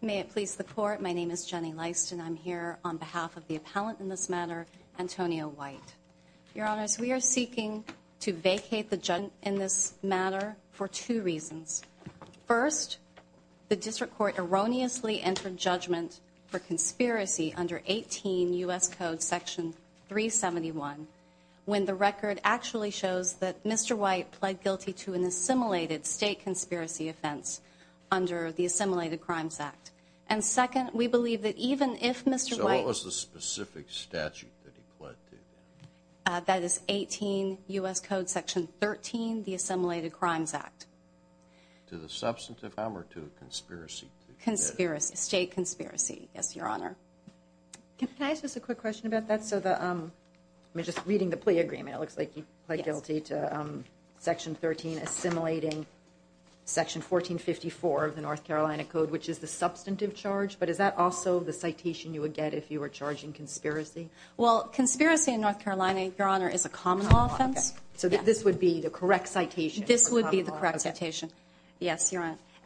May it please the Court, my name is Jenny Leist and I'm here on behalf of the appellant in this matter, Antonio White. Your Honors, we are seeking to vacate the judgment in this matter for two reasons. First, the District Court erroneously entered judgment for conspiracy under 18 U.S. Code Section 371 when the record actually shows that Mr. White pled guilty to an assimilated state conspiracy offense under the Assimilated Crimes Act. And second, we believe that even if Mr. White... So what was the specific statute that he pled to? That is 18 U.S. Code Section 13, the Assimilated Crimes Act. To the substantive harm or to a conspiracy? State conspiracy, yes, Your Honor. Can I ask just a quick question about that? I'm just reading the plea agreement, it looks like he pled guilty to Section 13 assimilating Section 1454 of the North Carolina Code, which is the substantive charge, but is that also the citation you would get if you were charging conspiracy? Well, conspiracy in North Carolina, Your Honor, is a common law offense. So this would be the correct citation?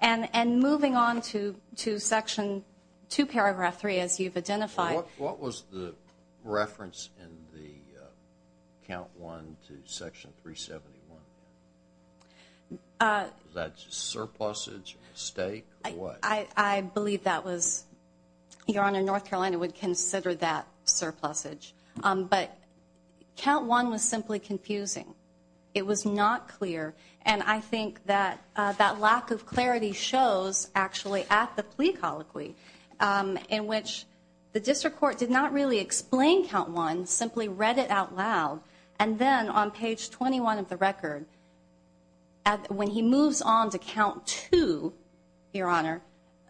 And moving on to Section 2, Paragraph 3, as you've identified. What was the reference in the Count 1 to Section 371? Was that just surplusage, a mistake, or what? I believe that was, Your Honor, North Carolina would consider that surplusage. But Count 1 was simply confusing. It was not clear, and I think that that lack of clarity shows actually at the plea colloquy, in which the district court did not really explain Count 1, simply read it out loud. And then on page 21 of the record, when he moves on to Count 2, Your Honor,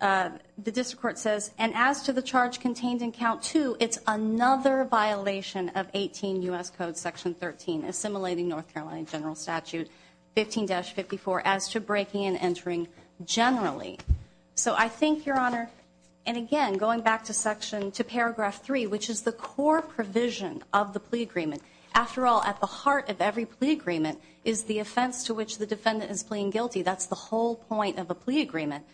the district court says, and as to the charge contained in Count 2, it's another violation of 18 U.S. Code Section 13, assimilating North Carolina General Statute 15-54, as to breaking and entering generally. So I think, Your Honor, and again, going back to Paragraph 3, which is the core provision of the plea agreement. After all, at the heart of every plea agreement is the offense to which the defendant is pleading guilty. That's the whole point of a plea agreement.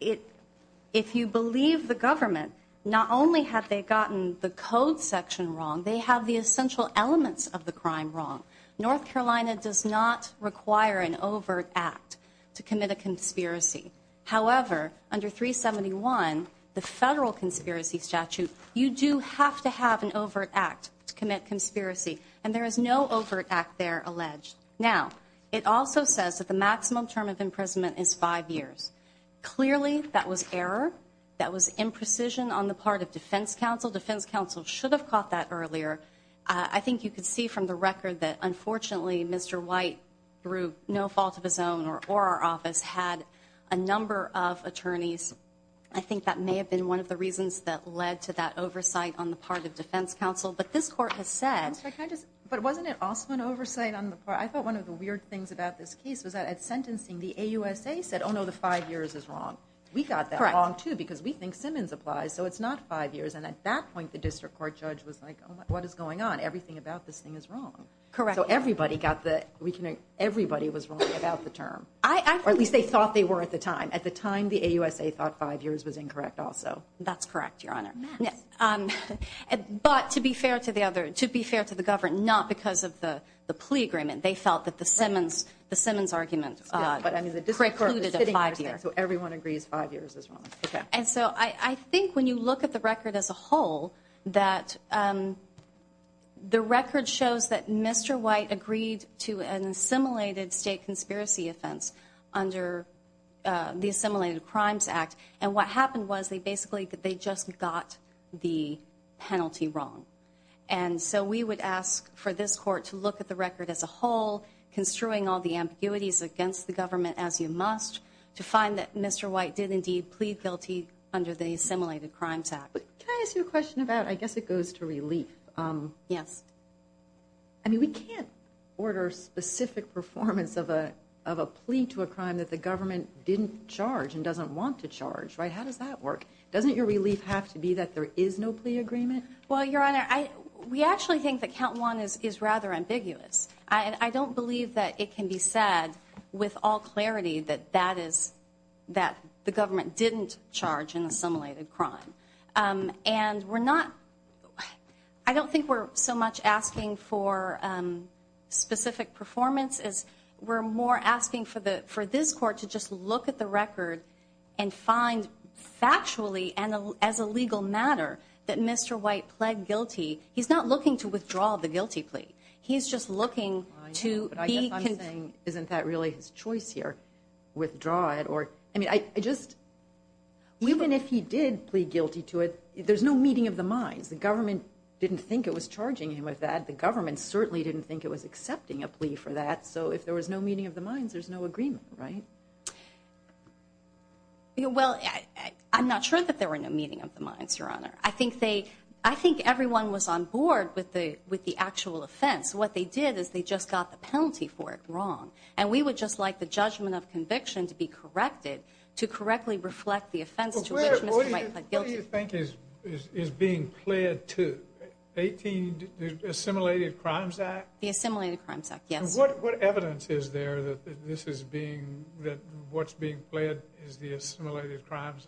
If you believe the government, not only have they gotten the code section wrong, they have the essential elements of the crime wrong. North Carolina does not require an overt act to commit a conspiracy. However, under 371, the Federal Conspiracy Statute, you do have to have an overt act to commit conspiracy. And there is no overt act there alleged. Now, it also says that the maximum term of imprisonment is five years. Clearly, that was error. That was imprecision on the part of defense counsel. Defense counsel should have caught that earlier. I think you can see from the record that, unfortunately, Mr. White, through no fault of his own or our office, had a number of attorneys. I think that may have been one of the reasons that led to that oversight on the part of defense counsel. But wasn't it also an oversight? I thought one of the weird things about this case was that at sentencing, the AUSA said, oh, no, the five years is wrong. We got that wrong, too, because we think Simmons applies, so it's not five years. And at that point, the district court judge was like, oh, my, what is going on? Everything about this thing is wrong. So everybody was wrong about the term, or at least they thought they were at the time. At the time, the AUSA thought five years was incorrect also. That's correct, Your Honor. But to be fair to the government, not because of the plea agreement, they felt that the Simmons argument precluded a five-year. So everyone agrees five years is wrong. And so I think when you look at the record as a whole, that the record shows that Mr. White agreed to an assimilated state conspiracy offense under the Assimilated Crimes Act. And what happened was they basically just got the penalty wrong. And so we would ask for this court to look at the record as a whole, construing all the ambiguities against the government as you must, to find that Mr. White did indeed plead guilty under the Assimilated Crimes Act. Can I ask you a question about, I guess it goes to relief. Yes. I mean, we can't order specific performance of a plea to a crime that the government didn't charge and doesn't want to charge, right? How does that work? Doesn't your relief have to be that there is no plea agreement? Well, Your Honor, we actually think that count one is rather ambiguous. I don't believe that it can be said with all clarity that that is that the government didn't charge an assimilated crime. And we're not, I don't think we're so much asking for specific performance as we're more asking for this court to just look at the record and find factually and as a legal matter that Mr. White pled guilty. He's not looking to withdraw the guilty plea. He's just looking to be. I know, but I guess I'm saying isn't that really his choice here, withdraw it or, I mean, I just. Even if he did plead guilty to it, there's no meeting of the minds. The government didn't think it was charging him with that. The government certainly didn't think it was accepting a plea for that. So if there was no meeting of the minds, there's no agreement, right? Well, I'm not sure that there were no meeting of the minds, Your Honor. I think they, I think everyone was on board with the actual offense. What they did is they just got the penalty for it wrong. And we would just like the judgment of conviction to be corrected to correctly reflect the offense to which Mr. White pled guilty. What do you think is being pled to? 18, the Assimilated Crimes Act? The Assimilated Crimes Act, yes. And what evidence is there that this is being, that what's being pled is the Assimilated Crimes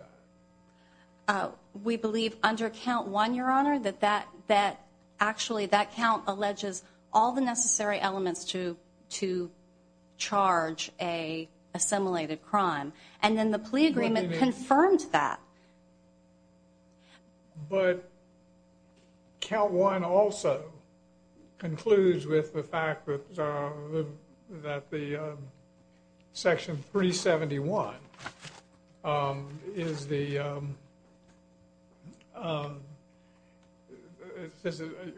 Act? We believe under count one, Your Honor, that actually that count alleges all the necessary elements to charge a assimilated crime. And then the plea agreement confirmed that. But count one also concludes with the fact that the Section 371 is the,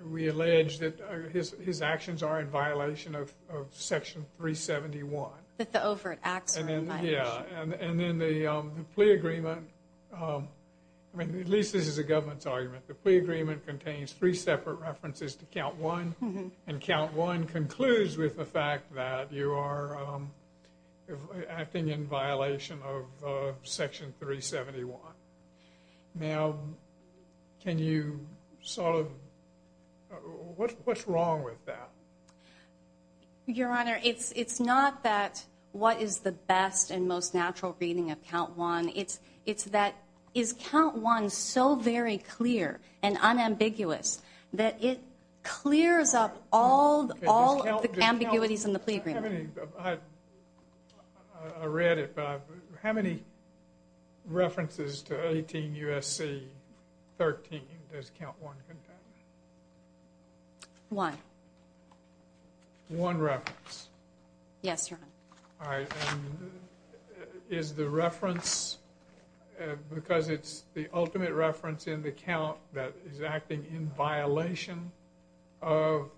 we allege that his actions are in violation of Section 371. That the overt acts are in violation. Yeah, and then the plea agreement, I mean, at least this is a government's argument, the plea agreement contains three separate references to count one, and count one concludes with the fact that you are acting in violation of Section 371. Now, can you sort of, what's wrong with that? Your Honor, it's not that what is the best and most natural reading of count one, it's that is count one so very clear and unambiguous that it clears up all of the ambiguities in the plea agreement. I read it, but how many references to 18 U.S.C. 13 does count one contain? One. One reference? Yes, Your Honor. All right, and is the reference, because it's the ultimate reference in the count that is acting in violation of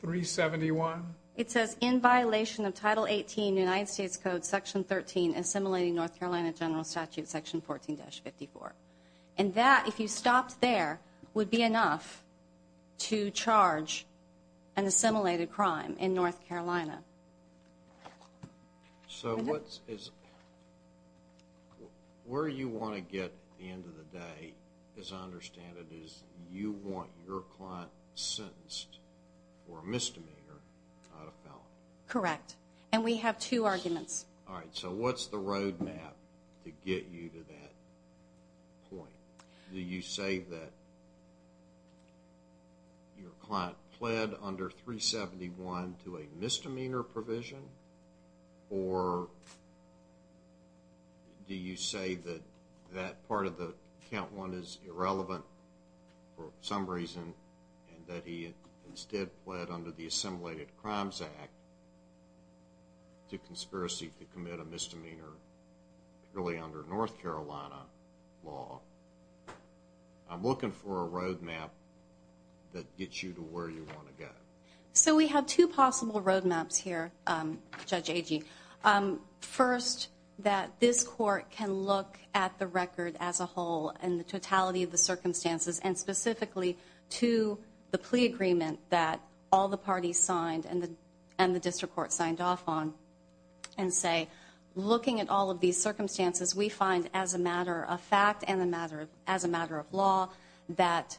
371? It says in violation of Title 18 United States Code Section 13, assimilating North Carolina General Statute Section 14-54. And that, if you stopped there, would be enough to charge an assimilated crime in North Carolina. So where you want to get at the end of the day, as I understand it, is you want your client sentenced for a misdemeanor, not a felony. Correct, and we have two arguments. All right, so what's the road map to get you to that point? Do you say that your client pled under 371 to a misdemeanor provision, or do you say that that part of the count one is irrelevant for some reason and that he instead pled under the Assimilated Crimes Act to conspiracy to commit a misdemeanor, really under North Carolina law? I'm looking for a road map that gets you to where you want to go. So we have two possible road maps here, Judge Agee. First, that this court can look at the record as a whole and the totality of the circumstances, and specifically to the plea agreement that all the parties signed and the district court signed off on, and say, looking at all of these circumstances, we find as a matter of fact and as a matter of law that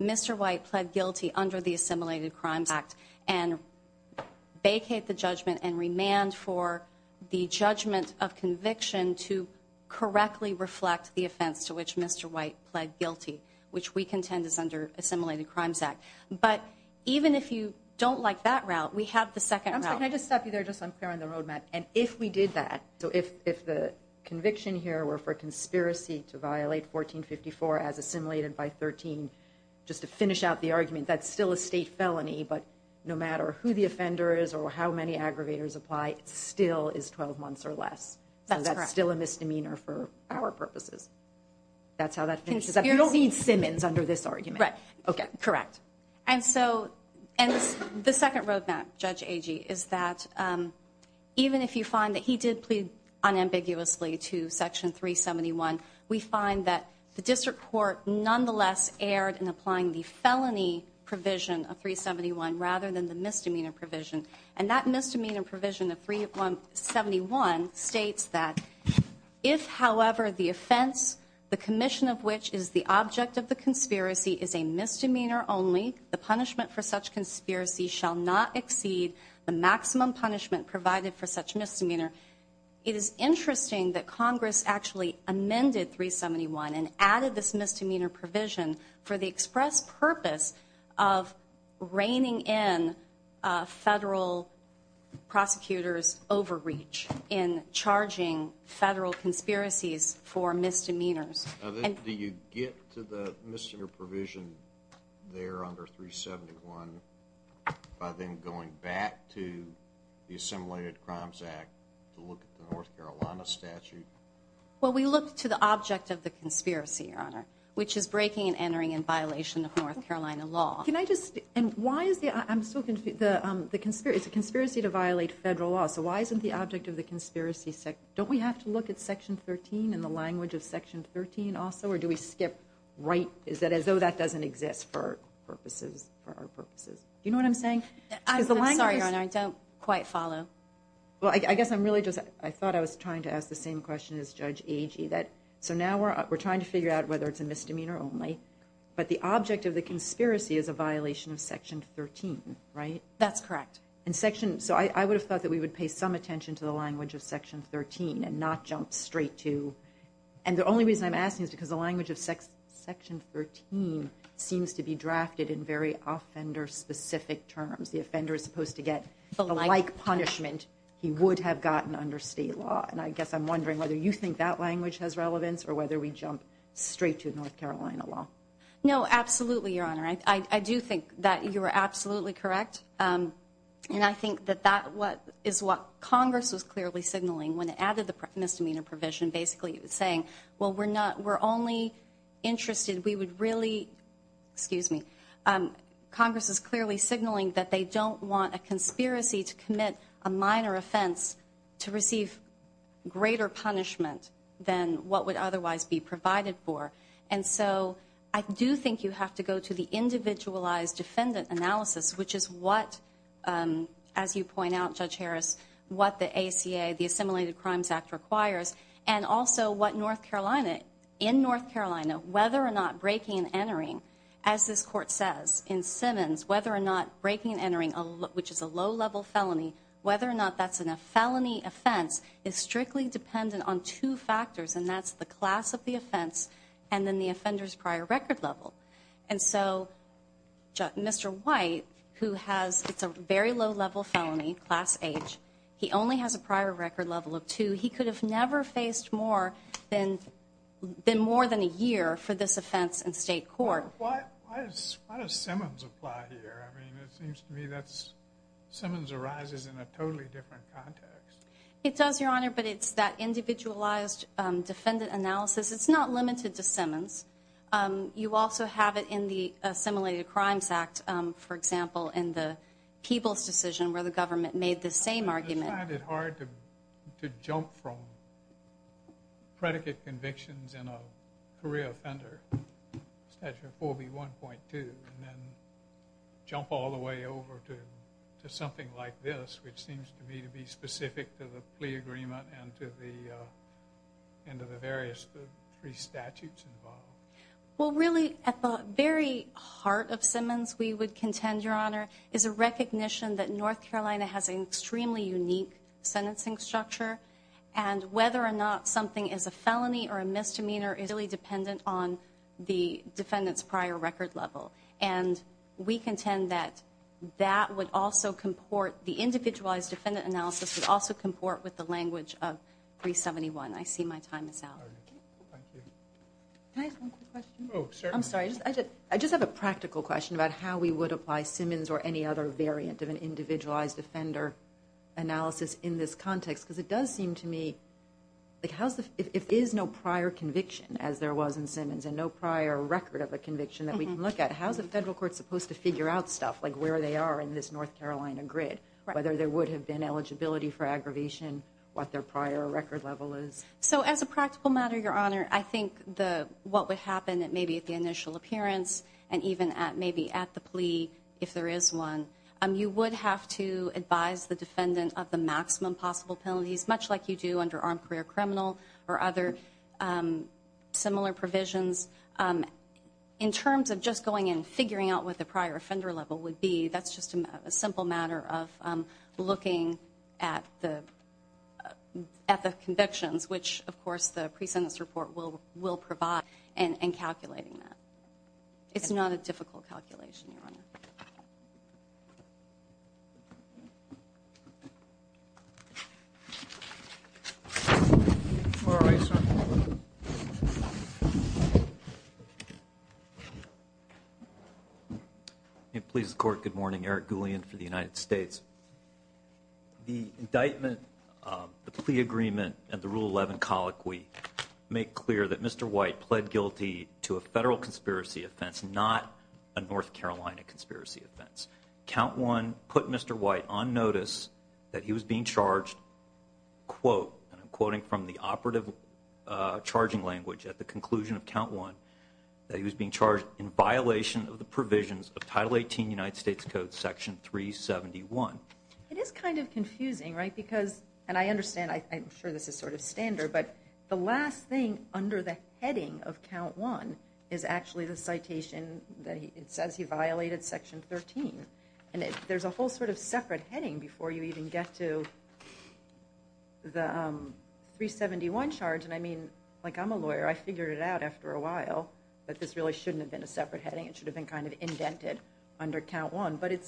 Mr. White pled guilty under the Assimilated Crimes Act and vacate the judgment and remand for the judgment of conviction to correctly reflect the offense to which Mr. White pled guilty, which we contend is under Assimilated Crimes Act. But even if you don't like that route, we have the second route. Can I just stop you there just so I'm clear on the road map? And if we did that, so if the conviction here were for conspiracy to violate 1454 as assimilated by 13, just to finish out the argument, that's still a state felony, but no matter who the offender is or how many aggravators apply, it still is 12 months or less. So that's still a misdemeanor for our purposes. That's how that finishes up. You don't need Simmons under this argument. Correct. And so the second road map, Judge Agee, is that even if you find that he did plead unambiguously to Section 371, we find that the district court nonetheless erred in applying the felony provision of 371 rather than the misdemeanor provision. And that misdemeanor provision of 371 states that if, however, the offense, the commission of which is the object of the conspiracy is a misdemeanor only, the punishment for such conspiracy shall not exceed the maximum punishment provided for such misdemeanor. It is interesting that Congress actually amended 371 and added this misdemeanor provision for the express purpose of reining in federal prosecutors' overreach in charging federal conspiracies for misdemeanors. Do you get to the misdemeanor provision there under 371 by then going back to the Assimilated Crimes Act to look at the North Carolina statute? Well, we look to the object of the conspiracy, Your Honor, which is breaking and entering in violation of North Carolina law. Can I just – and why is the – I'm still confused. It's a conspiracy to violate federal law, so why isn't the object of the conspiracy – don't we have to look at Section 13 in the language of Section 13 also, or do we skip right – is it as though that doesn't exist for our purposes? Do you know what I'm saying? I'm sorry, Your Honor, I don't quite follow. Well, I guess I'm really just – I thought I was trying to ask the same question as Judge Agee, that – so now we're trying to figure out whether it's a misdemeanor only, but the object of the conspiracy is a violation of Section 13, right? That's correct. And Section – so I would have thought that we would pay some attention to the language of Section 13 and not jump straight to – and the only reason I'm asking is because the language of Section 13 seems to be drafted in very offender-specific terms. The offender is supposed to get the like punishment he would have gotten under state law. And I guess I'm wondering whether you think that language has relevance or whether we jump straight to North Carolina law. No, absolutely, Your Honor. I do think that you are absolutely correct. And I think that that is what Congress was clearly signaling when it added the misdemeanor provision, basically saying, well, we're not – we're only interested – we would really – excuse me. Congress is clearly signaling that they don't want a conspiracy to commit a minor offense to receive greater punishment than what would otherwise be provided for. And so I do think you have to go to the individualized defendant analysis, which is what, as you point out, Judge Harris, what the ACA, the Assimilated Crimes Act requires, and also what North Carolina – in North Carolina, whether or not breaking and entering, as this Court says in Simmons, whether or not breaking and entering, which is a low-level felony, whether or not that's a felony offense is strictly dependent on two factors, and that's the class of the offense and then the offender's prior record level. And so Mr. White, who has – it's a very low-level felony, class H. He only has a prior record level of two. He could have never faced more than more than a year for this offense in state court. Why does Simmons apply here? I mean, it seems to me that Simmons arises in a totally different context. It does, Your Honor, but it's that individualized defendant analysis. It's not limited to Simmons. You also have it in the Assimilated Crimes Act, for example, in the Peebles decision, where the government made the same argument. I find it hard to jump from predicate convictions in a career offender statute 4B1.2 and then jump all the way over to something like this, which seems to me to be specific to the plea agreement and to the various three statutes involved. Well, really, at the very heart of Simmons, we would contend, Your Honor, is a recognition that North Carolina has an extremely unique sentencing structure, and whether or not something is a felony or a misdemeanor is really dependent on the defendant's prior record level. And we contend that that would also comport – the individualized defendant analysis would also comport with the language of 371. I see my time is out. Thank you. Can I ask one quick question? Oh, certainly. I'm sorry. I just have a practical question about how we would apply Simmons or any other variant of an individualized offender analysis in this context, because it does seem to me, if there is no prior conviction, as there was in Simmons, and no prior record of a conviction that we can look at, how is the federal court supposed to figure out stuff like where they are in this North Carolina grid, whether there would have been eligibility for aggravation, what their prior record level is? So as a practical matter, Your Honor, I think what would happen maybe at the initial appearance and even maybe at the plea, if there is one, you would have to advise the defendant of the maximum possible penalties, much like you do under armed career criminal or other similar provisions. In terms of just going in and figuring out what the prior offender level would be, that's just a simple matter of looking at the convictions, which, of course, the pre-sentence report will provide, and calculating that. It's not a difficult calculation, Your Honor. All right, sir. Please, the Court, good morning. Eric Goulean for the United States. The indictment, the plea agreement, and the Rule 11 colloquy make clear that Mr. White pled guilty to a federal conspiracy offense, not a North Carolina conspiracy offense. Count 1 put Mr. White on notice that he was being charged, quote, and I'm quoting from the operative charging language at the conclusion of Count 1, that he was being charged in violation of the provisions of Title 18 United States Code, Section 371. It is kind of confusing, right, because, and I understand, I'm sure this is sort of standard, but the last thing under the heading of Count 1 is actually the citation that it says he violated Section 13, and there's a whole sort of separate heading before you even get to the 371 charge, and I mean, like, I'm a lawyer. I figured it out after a while that this really shouldn't have been a separate heading. It should have been kind of indented under Count 1, but it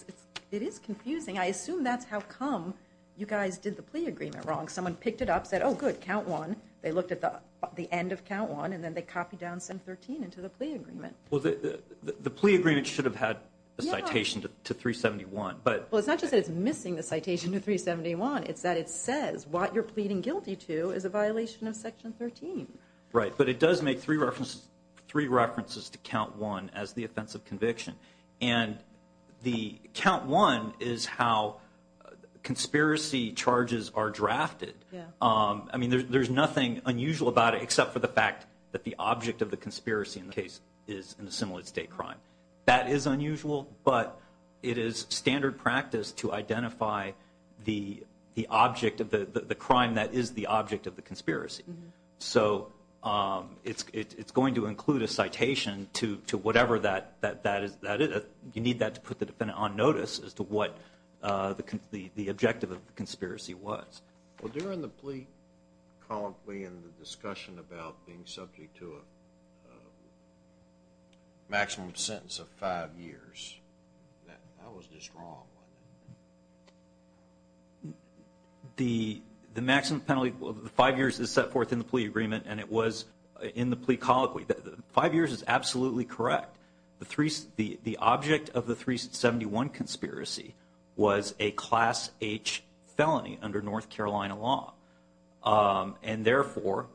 is confusing. I assume that's how come you guys did the plea agreement wrong. Someone picked it up, said, oh, good, Count 1. They looked at the end of Count 1, and then they copied down Section 13 into the plea agreement. Well, the plea agreement should have had a citation to 371. Well, it's not just that it's missing the citation to 371. It's that it says what you're pleading guilty to is a violation of Section 13. Right, but it does make three references to Count 1 as the offense of conviction, and Count 1 is how conspiracy charges are drafted. I mean, there's nothing unusual about it except for the fact that the object of the conspiracy in the case is an assimilated state crime. That is unusual, but it is standard practice to identify the object of the crime that is the object of the conspiracy. So it's going to include a citation to whatever that is. You need that to put the defendant on notice as to what the objective of the conspiracy was. Well, during the plea, the discussion about being subject to a maximum sentence of five years, how is this wrong? The maximum penalty of five years is set forth in the plea agreement, and it was in the plea colloquy. Five years is absolutely correct. The object of the 371 conspiracy was a Class H felony under North Carolina law, and therefore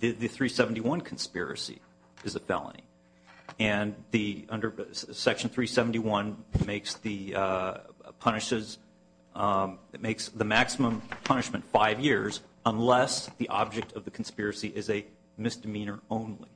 the 371 conspiracy is a felony. And under Section 371, it makes the maximum punishment five years unless the object of the conspiracy is a misdemeanor only.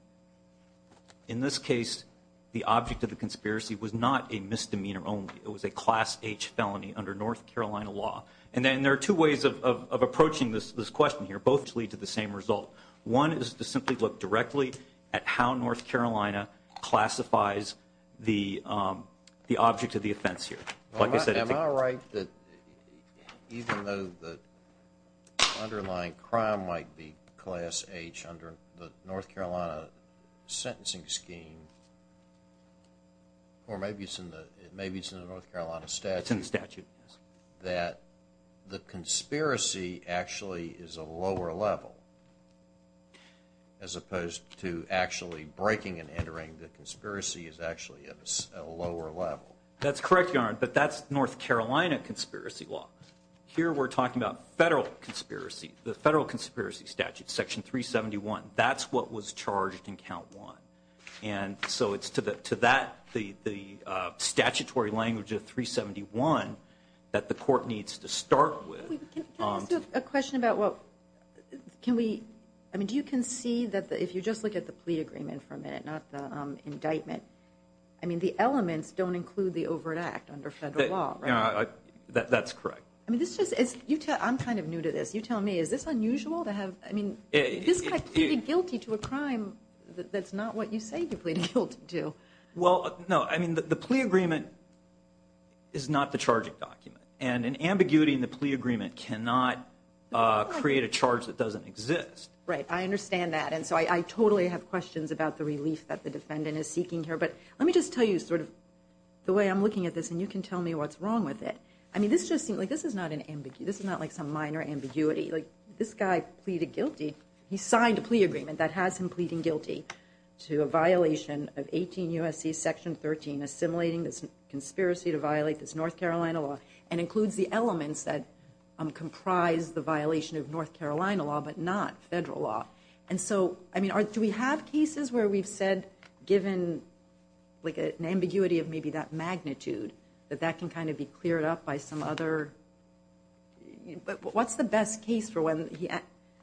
In this case, the object of the conspiracy was not a misdemeanor only. It was a Class H felony under North Carolina law. And then there are two ways of approaching this question here, both to lead to the same result. One is to simply look directly at how North Carolina classifies the object of the offense here. Am I right that even though the underlying crime might be Class H under the North Carolina sentencing scheme, or maybe it's in the North Carolina statute, that the conspiracy actually is a lower level as opposed to actually breaking and entering the conspiracy is actually at a lower level? That's correct, Your Honor, but that's North Carolina conspiracy law. Here we're talking about federal conspiracy. The federal conspiracy statute, Section 371, that's what was charged in Count 1. And so it's to that, the statutory language of 371 that the court needs to start with. Can I ask a question about what, can we, I mean, do you concede that if you just look at the plea agreement for a minute, not the indictment, I mean, the elements don't include the overt act under federal law, right? That's correct. I mean, this is, I'm kind of new to this. You tell me, is this unusual to have, I mean, this guy pleaded guilty to a crime that's not what you say he pleaded guilty to. Well, no, I mean, the plea agreement is not the charging document, and an ambiguity in the plea agreement cannot create a charge that doesn't exist. Right, I understand that, and so I totally have questions about the relief that the defendant is seeking here. But let me just tell you sort of the way I'm looking at this, and you can tell me what's wrong with it. I mean, this just seems like, this is not an ambiguity, this is not like some minor ambiguity. Like, this guy pleaded guilty, he signed a plea agreement that has him pleading guilty to a violation of 18 U.S.C. Section 13, assimilating this conspiracy to violate this North Carolina law, and includes the elements that comprise the violation of North Carolina law, but not federal law. And so, I mean, do we have cases where we've said, given like an ambiguity of maybe that magnitude, that that can kind of be cleared up by some other, but what's the best case for when,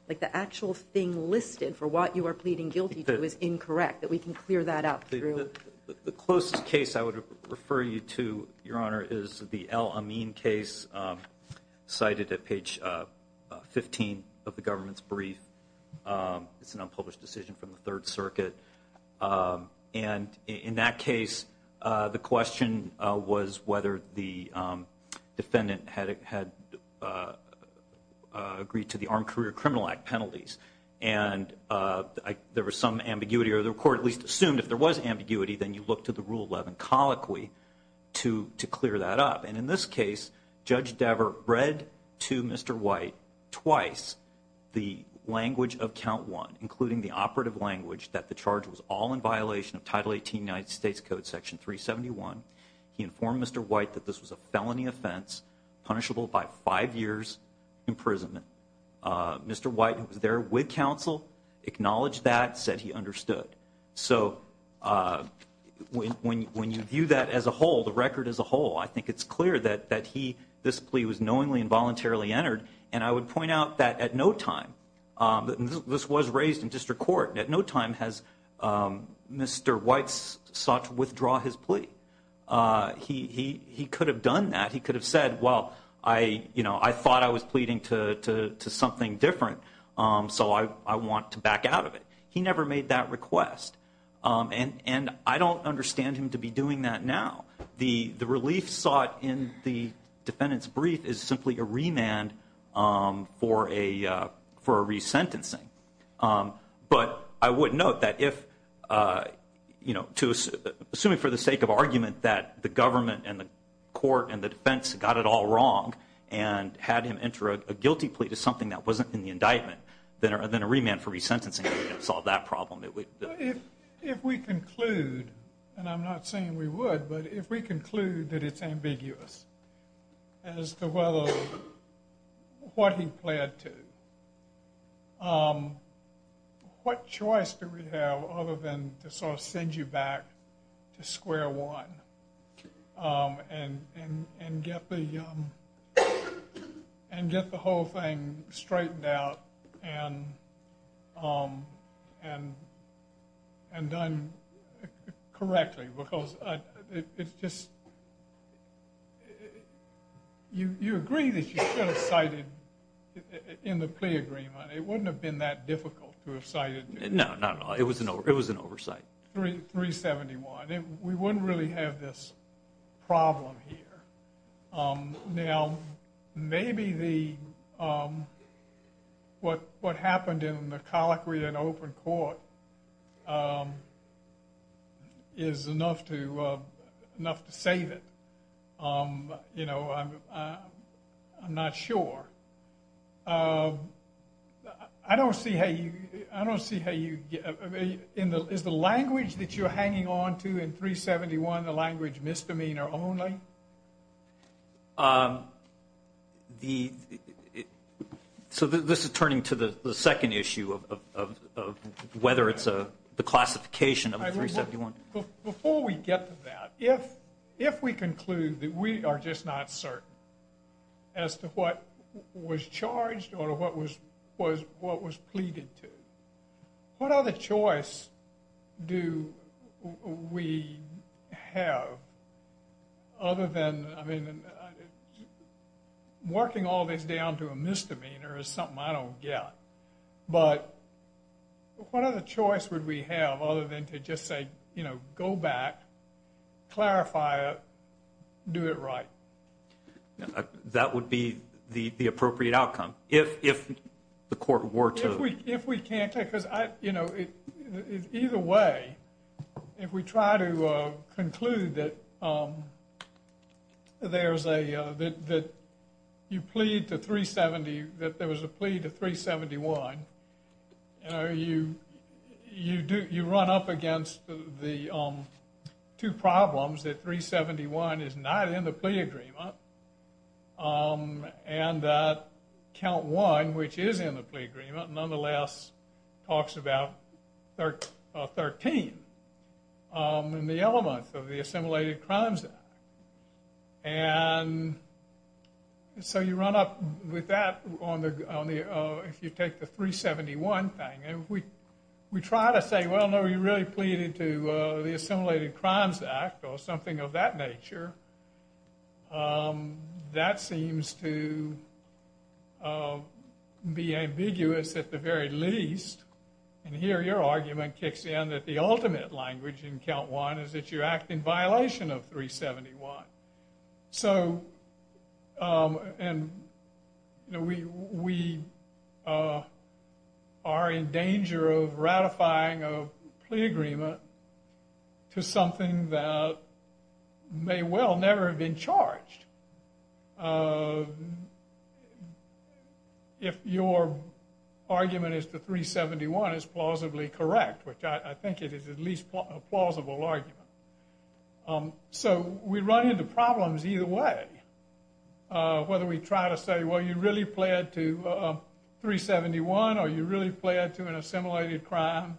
like the actual thing listed for what you are pleading guilty to is incorrect, that we can clear that up through? The closest case I would refer you to, Your Honor, is the El Amin case, cited at page 15 of the government's brief. It's an unpublished decision from the Third Circuit. And in that case, the question was whether the defendant had agreed to the Armed Career Criminal Act penalties. And there was some ambiguity, or the court at least assumed if there was ambiguity, then you look to the Rule 11 colloquy to clear that up. And in this case, Judge Dever read to Mr. White twice the language of Count 1, including the operative language that the charge was all in violation of Title 18 United States Code Section 371. He informed Mr. White that this was a felony offense, punishable by five years' imprisonment. Mr. White, who was there with counsel, acknowledged that, said he understood. So when you view that as a whole, the record as a whole, I think it's clear that this plea was knowingly and voluntarily entered. And I would point out that at no time, this was raised in district court, at no time has Mr. White sought to withdraw his plea. He could have done that. He could have said, well, I thought I was pleading to something different, so I want to back out of it. He never made that request. And I don't understand him to be doing that now. The relief sought in the defendant's brief is simply a remand for a resentencing. But I would note that if, you know, assuming for the sake of argument that the government and the court and the defense got it all wrong and had him enter a guilty plea to something that wasn't in the indictment, then a remand for resentencing would have solved that problem. If we conclude, and I'm not saying we would, but if we conclude that it's ambiguous as to what he pled to, what choice do we have other than to sort of send you back to square one and get the whole thing straightened out and done correctly? Because it's just, you agree that you should have cited in the plea agreement. It wouldn't have been that difficult to have cited. No, not at all. It was an oversight. 371. We wouldn't really have this problem here. Now, maybe what happened in the colloquy in open court is enough to save it. You know, I'm not sure. I don't see how you, I don't see how you, is the language that you're hanging on to in 371 the language misdemeanor only? The, so this is turning to the second issue of whether it's the classification of 371. Before we get to that, if we conclude that we are just not certain as to what was charged or what was pleaded to, what other choice do we have other than, I mean, working all this down to a misdemeanor is something I don't get, but what other choice would we have other than to just say, you know, go back, clarify it, do it right? That would be the appropriate outcome if the court were to. If we, if we can't, because I, you know, either way, if we try to conclude that there's a, that you plead to 370, that there was a plea to 371, you know, you, you do, you run up against the two problems that 371 is not in the plea agreement. And that count one, which is in the plea agreement, nonetheless talks about 13 in the elements of the Assimilated Crimes Act. And so you run up with that on the, if you take the 371 thing, and we try to say, well, no, you really pleaded to the Assimilated Crimes Act or something of that nature, that seems to be ambiguous at the very least. And here your argument kicks in that the ultimate language in count one is that you act in violation of 371. So, and, you know, we, we are in danger of ratifying a plea agreement to something that may well never have been charged. If your argument is that 371 is plausibly correct, which I think it is at least a plausible argument. So we run into problems either way, whether we try to say, well, you really plead to 371 or you really plead to an assimilated crime.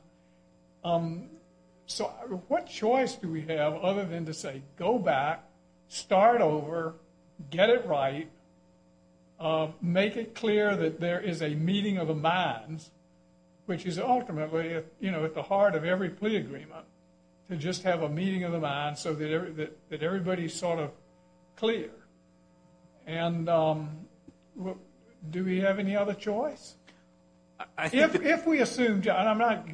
So what choice do we have other than to say, go back, start over, get it right, make it clear that there is a meeting of the minds, which is ultimately, you know, at the heart of every plea agreement, to just have a meeting of the minds so that everybody is sort of clear. And do we have any other choice? If we assume, and I'm not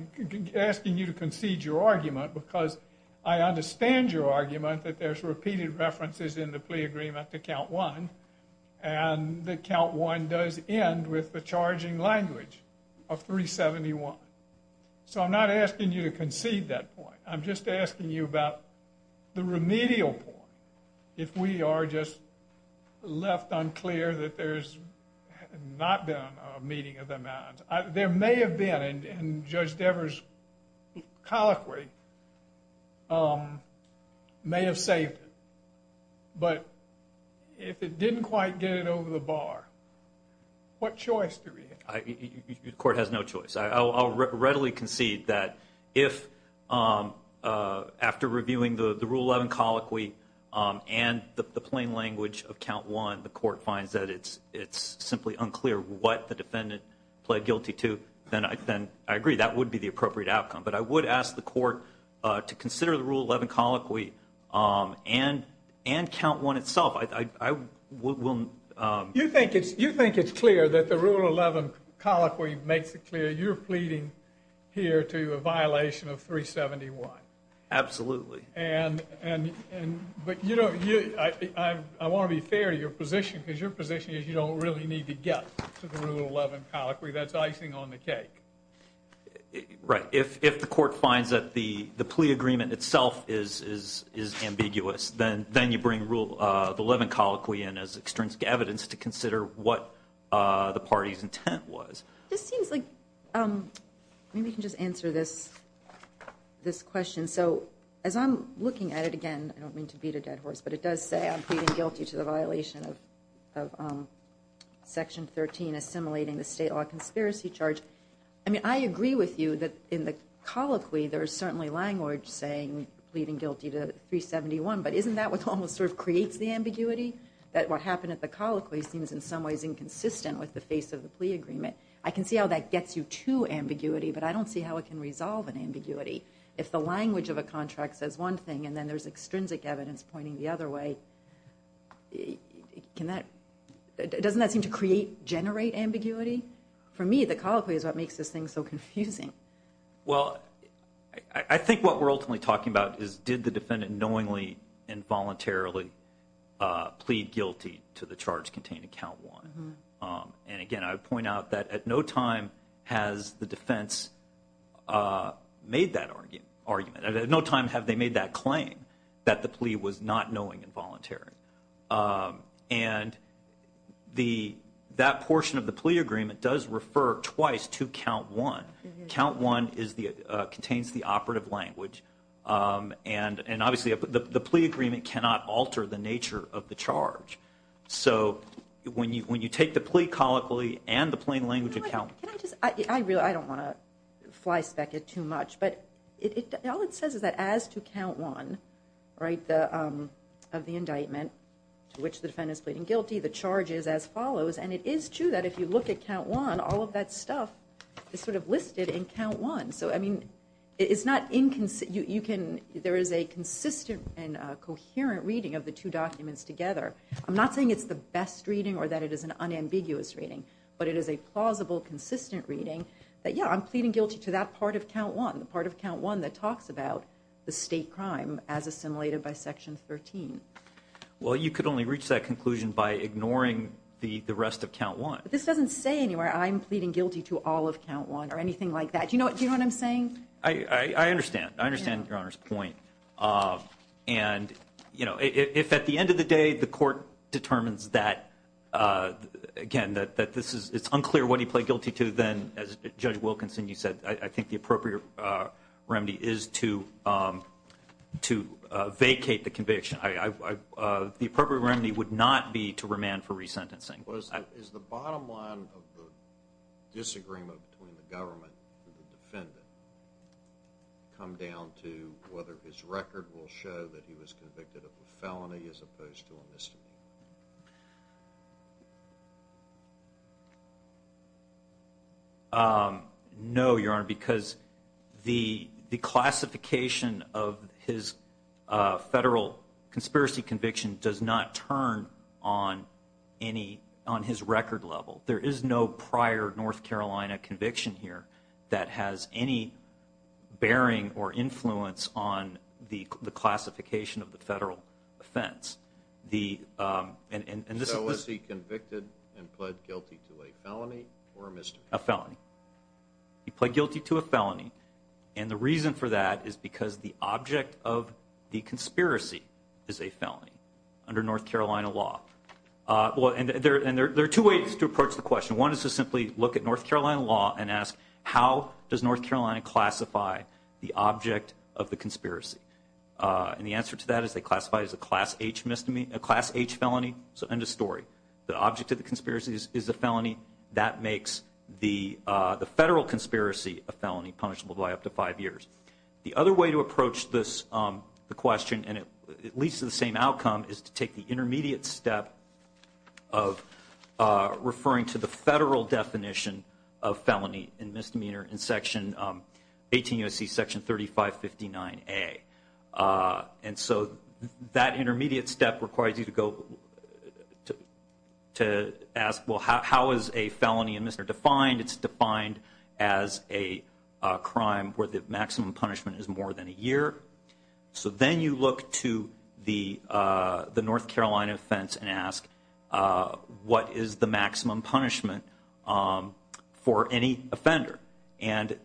asking you to concede your argument, because I understand your argument that there's repeated references in the plea agreement to count one, and that count one does end with the charging language of 371. So I'm not asking you to concede that point. I'm just asking you about the remedial point. If we are just left unclear that there's not been a meeting of the minds. There may have been, and Judge Devers' colloquy may have saved it. But if it didn't quite get it over the bar, what choice do we have? The court has no choice. I'll readily concede that if, after reviewing the Rule 11 colloquy and the plain language of count one, the court finds that it's simply unclear what the defendant pled guilty to, then I agree. That would be the appropriate outcome. But I would ask the court to consider the Rule 11 colloquy and count one itself. You think it's clear that the Rule 11 colloquy makes it clear you're pleading here to a violation of 371? Absolutely. But I want to be fair to your position, because your position is you don't really need to get to the Rule 11 colloquy. That's icing on the cake. Right. If the court finds that the plea agreement itself is ambiguous, then you bring the Rule 11 colloquy in as extrinsic evidence to consider what the party's intent was. This seems like we can just answer this question. So as I'm looking at it again, I don't mean to beat a dead horse, but it does say I'm pleading guilty to the violation of Section 13, assimilating the state law conspiracy charge. I mean, I agree with you that in the colloquy there is certainly language saying pleading guilty to 371, but isn't that what almost sort of creates the ambiguity, that what happened at the colloquy seems in some ways inconsistent with the face of the plea agreement? I can see how that gets you to ambiguity, but I don't see how it can resolve an ambiguity. If the language of a contract says one thing and then there's extrinsic evidence pointing the other way, doesn't that seem to create, generate ambiguity? For me, the colloquy is what makes this thing so confusing. Well, I think what we're ultimately talking about is did the defendant knowingly and voluntarily plead guilty to the charge contained in Count 1? And again, I would point out that at no time has the defense made that argument. At no time have they made that claim that the plea was not knowing and voluntary. And that portion of the plea agreement does refer twice to Count 1. Count 1 contains the operative language, and obviously the plea agreement cannot alter the nature of the charge. So when you take the plea colloquy and the plain language account. I don't want to flyspeck it too much, but all it says is that as to Count 1 of the indictment, to which the defendant is pleading guilty, the charge is as follows. And it is true that if you look at Count 1, all of that stuff is sort of listed in Count 1. So, I mean, there is a consistent and coherent reading of the two documents together. I'm not saying it's the best reading or that it is an unambiguous reading, but it is a plausible, consistent reading that, yeah, I'm pleading guilty to that part of Count 1, the part of Count 1 that talks about the state crime as assimilated by Section 13. Well, you could only reach that conclusion by ignoring the rest of Count 1. But this doesn't say anywhere I'm pleading guilty to all of Count 1 or anything like that. Do you know what I'm saying? I understand. I understand Your Honor's point. And, you know, if at the end of the day the court determines that, again, that it's unclear what he pled guilty to, then, as Judge Wilkinson, you said, I think the appropriate remedy is to vacate the conviction. The appropriate remedy would not be to remand for resentencing. My question was, is the bottom line of the disagreement between the government and the defendant come down to whether his record will show that he was convicted of a felony as opposed to a misdemeanor? No, Your Honor, because the classification of his federal conspiracy conviction does not turn on his record level. There is no prior North Carolina conviction here that has any bearing or influence on the classification of the federal offense. So is he convicted and pled guilty to a felony or a misdemeanor? He pled guilty to a felony. And the reason for that is because the object of the conspiracy is a felony under North Carolina law. And there are two ways to approach the question. One is to simply look at North Carolina law and ask how does North Carolina classify the object of the conspiracy. And the answer to that is they classify it as a Class H felony. So end of story. The object of the conspiracy is a felony. That makes the federal conspiracy a felony punishable by up to five years. The other way to approach the question, and it leads to the same outcome, is to take the intermediate step of referring to the federal definition of felony and misdemeanor in 18 U.S.C. Section 3559A. And so that intermediate step requires you to go to ask, well, how is a felony and misdemeanor defined? It's defined as a crime where the maximum punishment is more than a year. So then you look to the North Carolina offense and ask, what is the maximum punishment for any offender? And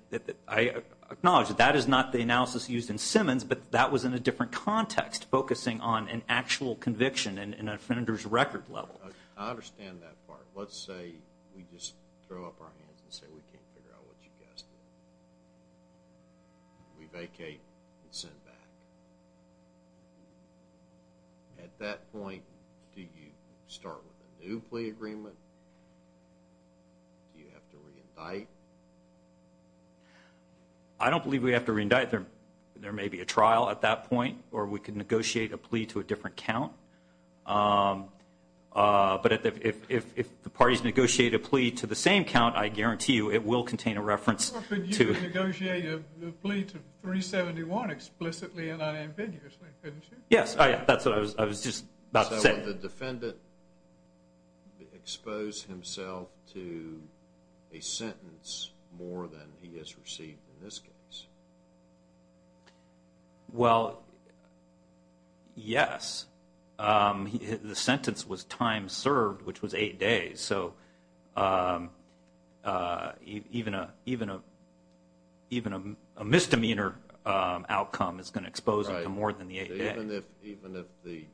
I acknowledge that that is not the analysis used in Simmons, but that was in a different context focusing on an actual conviction and an offender's record level. I understand that part. Let's say we just throw up our hands and say we can't figure out what you guys did. We vacate and send back. At that point, do you start with a new plea agreement? Do you have to re-indict? I don't believe we have to re-indict. There may be a trial at that point, or we can negotiate a plea to a different count. But if the parties negotiate a plea to the same count, I guarantee you it will contain a reference. Or could you negotiate a plea to 371 explicitly and unambiguously? So would the defendant expose himself to a sentence more than he has received in this case? Well, yes. The sentence was time served, which was eight days. So even a misdemeanor outcome is going to expose him to more than the eight days. Even if the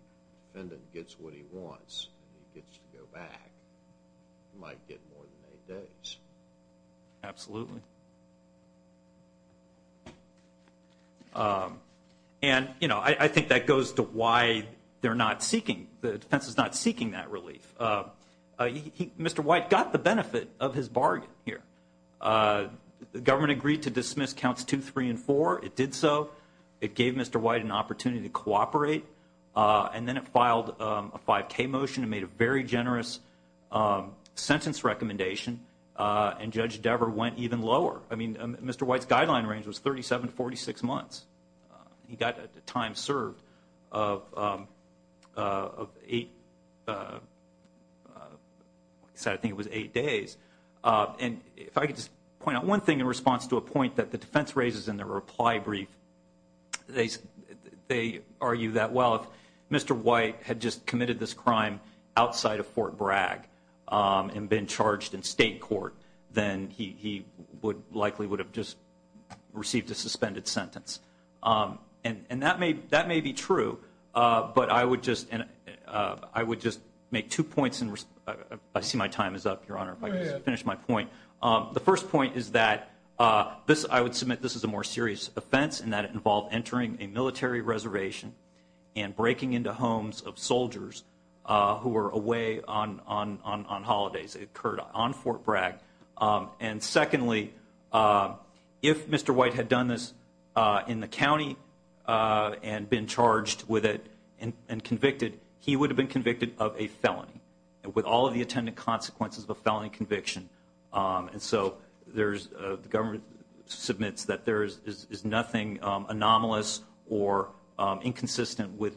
defendant gets what he wants and he gets to go back, he might get more than eight days. Absolutely. And I think that goes to why the defense is not seeking that relief. Mr. White got the benefit of his bargain here. The government agreed to dismiss counts two, three, and four. It did so. It gave Mr. White an opportunity to cooperate. And then it filed a 5K motion and made a very generous sentence recommendation. And Judge Dever went even lower. I mean, Mr. White's guideline range was 37 to 46 months. He got a time served of eight days. And if I could just point out one thing in response to a point that the defense raises in their reply brief, they argue that, well, if Mr. White had just committed this crime outside of Fort Bragg and been charged in state court, then he likely would have just received a suspended sentence. And that may be true, but I would just make two points. I see my time is up, Your Honor, if I could just finish my point. The first point is that I would submit this is a more serious offense and that it involved entering a military reservation and breaking into homes of soldiers who were away on holidays. It occurred on Fort Bragg. And secondly, if Mr. White had done this in the county and been charged with it and convicted, he would have been convicted of a felony. And with all of the attendant consequences of a felony conviction, and so the government submits that there is nothing anomalous or inconsistent with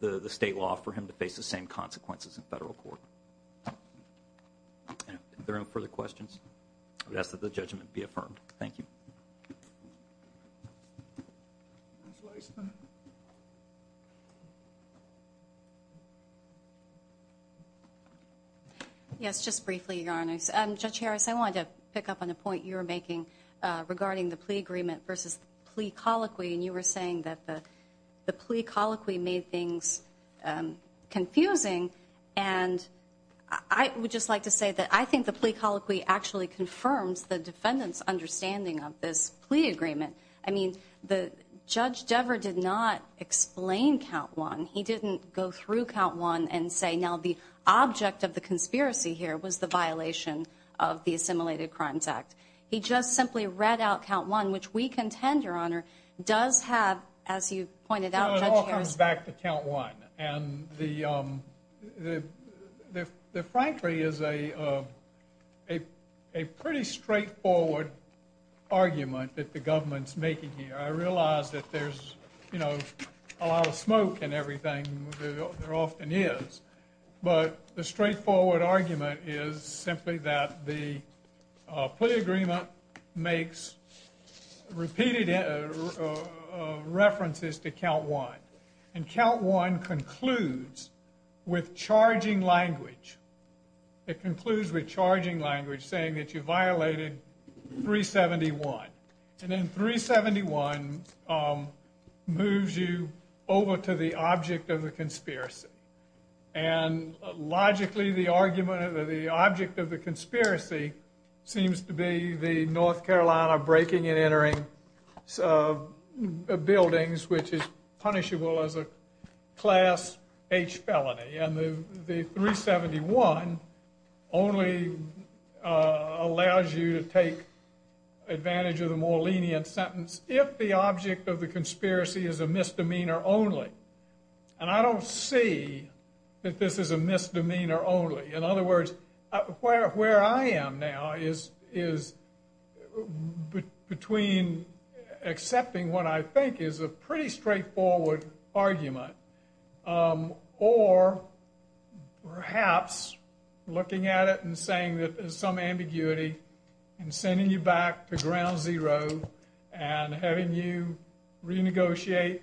the state law for him to face the same consequences in federal court. Are there any further questions? I would ask that the judgment be affirmed. Thank you. Yes, just briefly, Your Honors. Judge Harris, I wanted to pick up on a point you were making regarding the plea agreement versus the plea colloquy. And you were saying that the plea colloquy made things confusing. And I would just like to say that I think the plea colloquy actually confirms the defendant's understanding of this plea agreement. I mean, Judge Dever did not explain Count 1. He didn't go through Count 1 and say, now the object of the conspiracy here was the violation of the Assimilated Crimes Act. He just simply read out Count 1, which we contend, Your Honor, does have, as you pointed out, Judge Harris. It goes back to Count 1. And the, frankly, is a pretty straightforward argument that the government's making here. I realize that there's, you know, a lot of smoke and everything there often is. But the straightforward argument is simply that the plea agreement makes repeated references to Count 1. And Count 1 concludes with charging language. It concludes with charging language saying that you violated 371. And then 371 moves you over to the object of the conspiracy. And logically, the argument of the object of the conspiracy seems to be the North Carolina breaking and entering buildings, which is punishable as a Class H felony. And the 371 only allows you to take advantage of the more lenient sentence if the object of the conspiracy is a misdemeanor only. And I don't see that this is a misdemeanor only. In other words, where I am now is between accepting what I think is a pretty straightforward argument or perhaps looking at it and saying that there's some ambiguity and sending you back to ground zero and having you renegotiate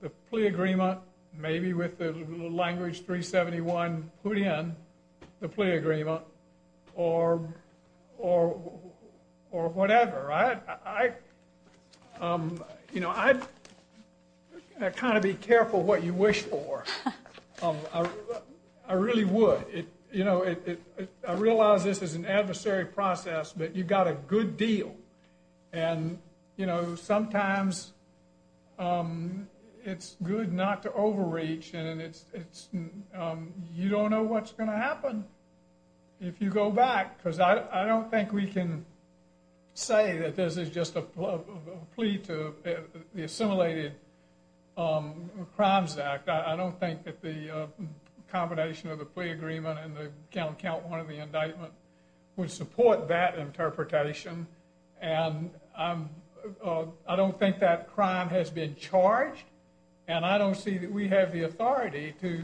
the plea agreement, maybe with the language 371 put in the plea agreement or whatever. I'd kind of be careful what you wish for. I really would. I realize this is an adversary process, but you've got a good deal. And sometimes it's good not to overreach and you don't know what's going to happen if you go back because I don't think we can say that this is just a plea to the Assimilated Crimes Act. I don't think that the combination of the plea agreement and the count one of the indictment would support that interpretation. And I don't think that crime has been charged. And I don't see that we have the authority to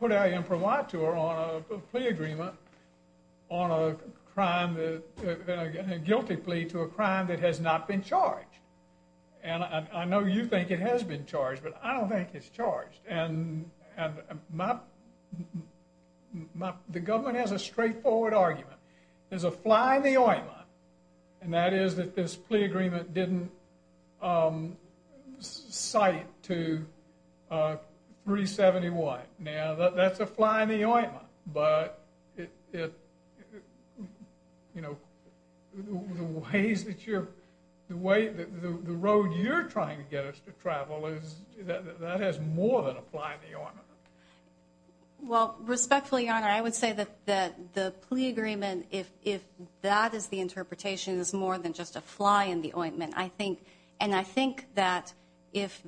put our imprimatur on a plea agreement on a crime, a guilty plea to a crime that has not been charged. And I know you think it has been charged, but I don't think it's charged. And the government has a straightforward argument. There's a fly in the ointment, and that is that this plea agreement didn't cite to 371. Now, that's a fly in the ointment, but the road you're trying to get us to travel, that has more than a fly in the ointment. Well, respectfully, Your Honor, I would say that the plea agreement, if that is the interpretation, is more than just a fly in the ointment. And I think that if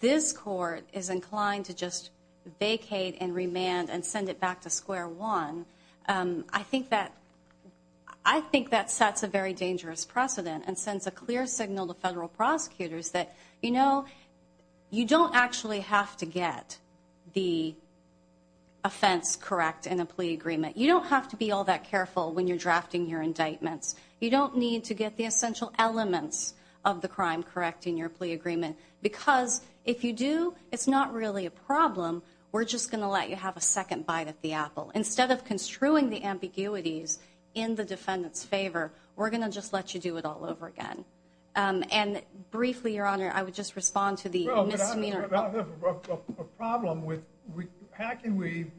this court is inclined to just vacate and remand and send it back to square one, I think that sets a very dangerous precedent and sends a clear signal to federal prosecutors that, you know, you actually have to get the offense correct in a plea agreement. You don't have to be all that careful when you're drafting your indictments. You don't need to get the essential elements of the crime correct in your plea agreement, because if you do, it's not really a problem. We're just going to let you have a second bite at the apple. Instead of construing the ambiguities in the defendant's favor, we're going to just let you do it all over again. And briefly, Your Honor, I would just respond to the misdemeanor. Well, but I have a problem with how can we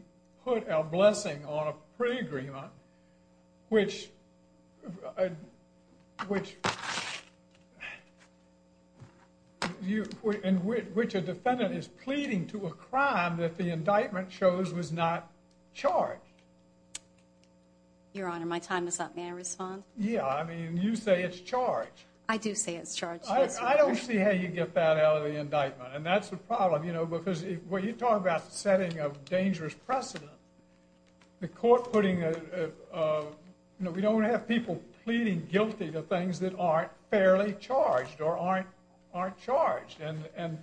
put our blessing on a plea agreement, which a defendant is pleading to a crime that the indictment shows was not charged? Your Honor, my time is up. May I respond? Yeah. I mean, you say it's charged. I do say it's charged. I don't see how you get that out of the indictment, and that's the problem, you know, because when you talk about the setting of dangerous precedent, the court putting a, you know, we don't want to have people pleading guilty to things that aren't fairly charged or aren't charged. And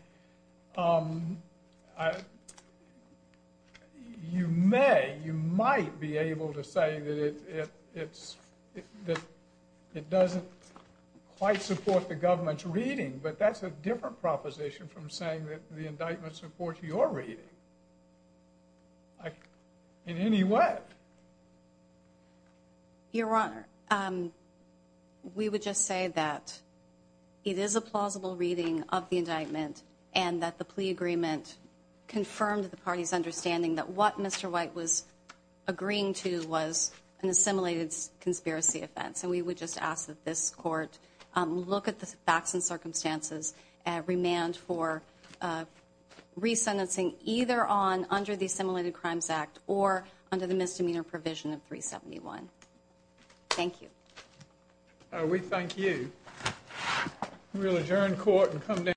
you may, you might be able to say that it doesn't quite support the government's reading, but that's a different proposition from saying that the indictment supports your reading in any way. Your Honor, we would just say that it is a plausible reading of the indictment and that the plea agreement confirmed the party's understanding that what Mr. White was agreeing to was an assimilated conspiracy offense. And we would just ask that this court look at the facts and circumstances and remand for resentencing, either on under the Assimilated Crimes Act or under the misdemeanor provision of 371. Thank you. We thank you. We will adjourn court and come down.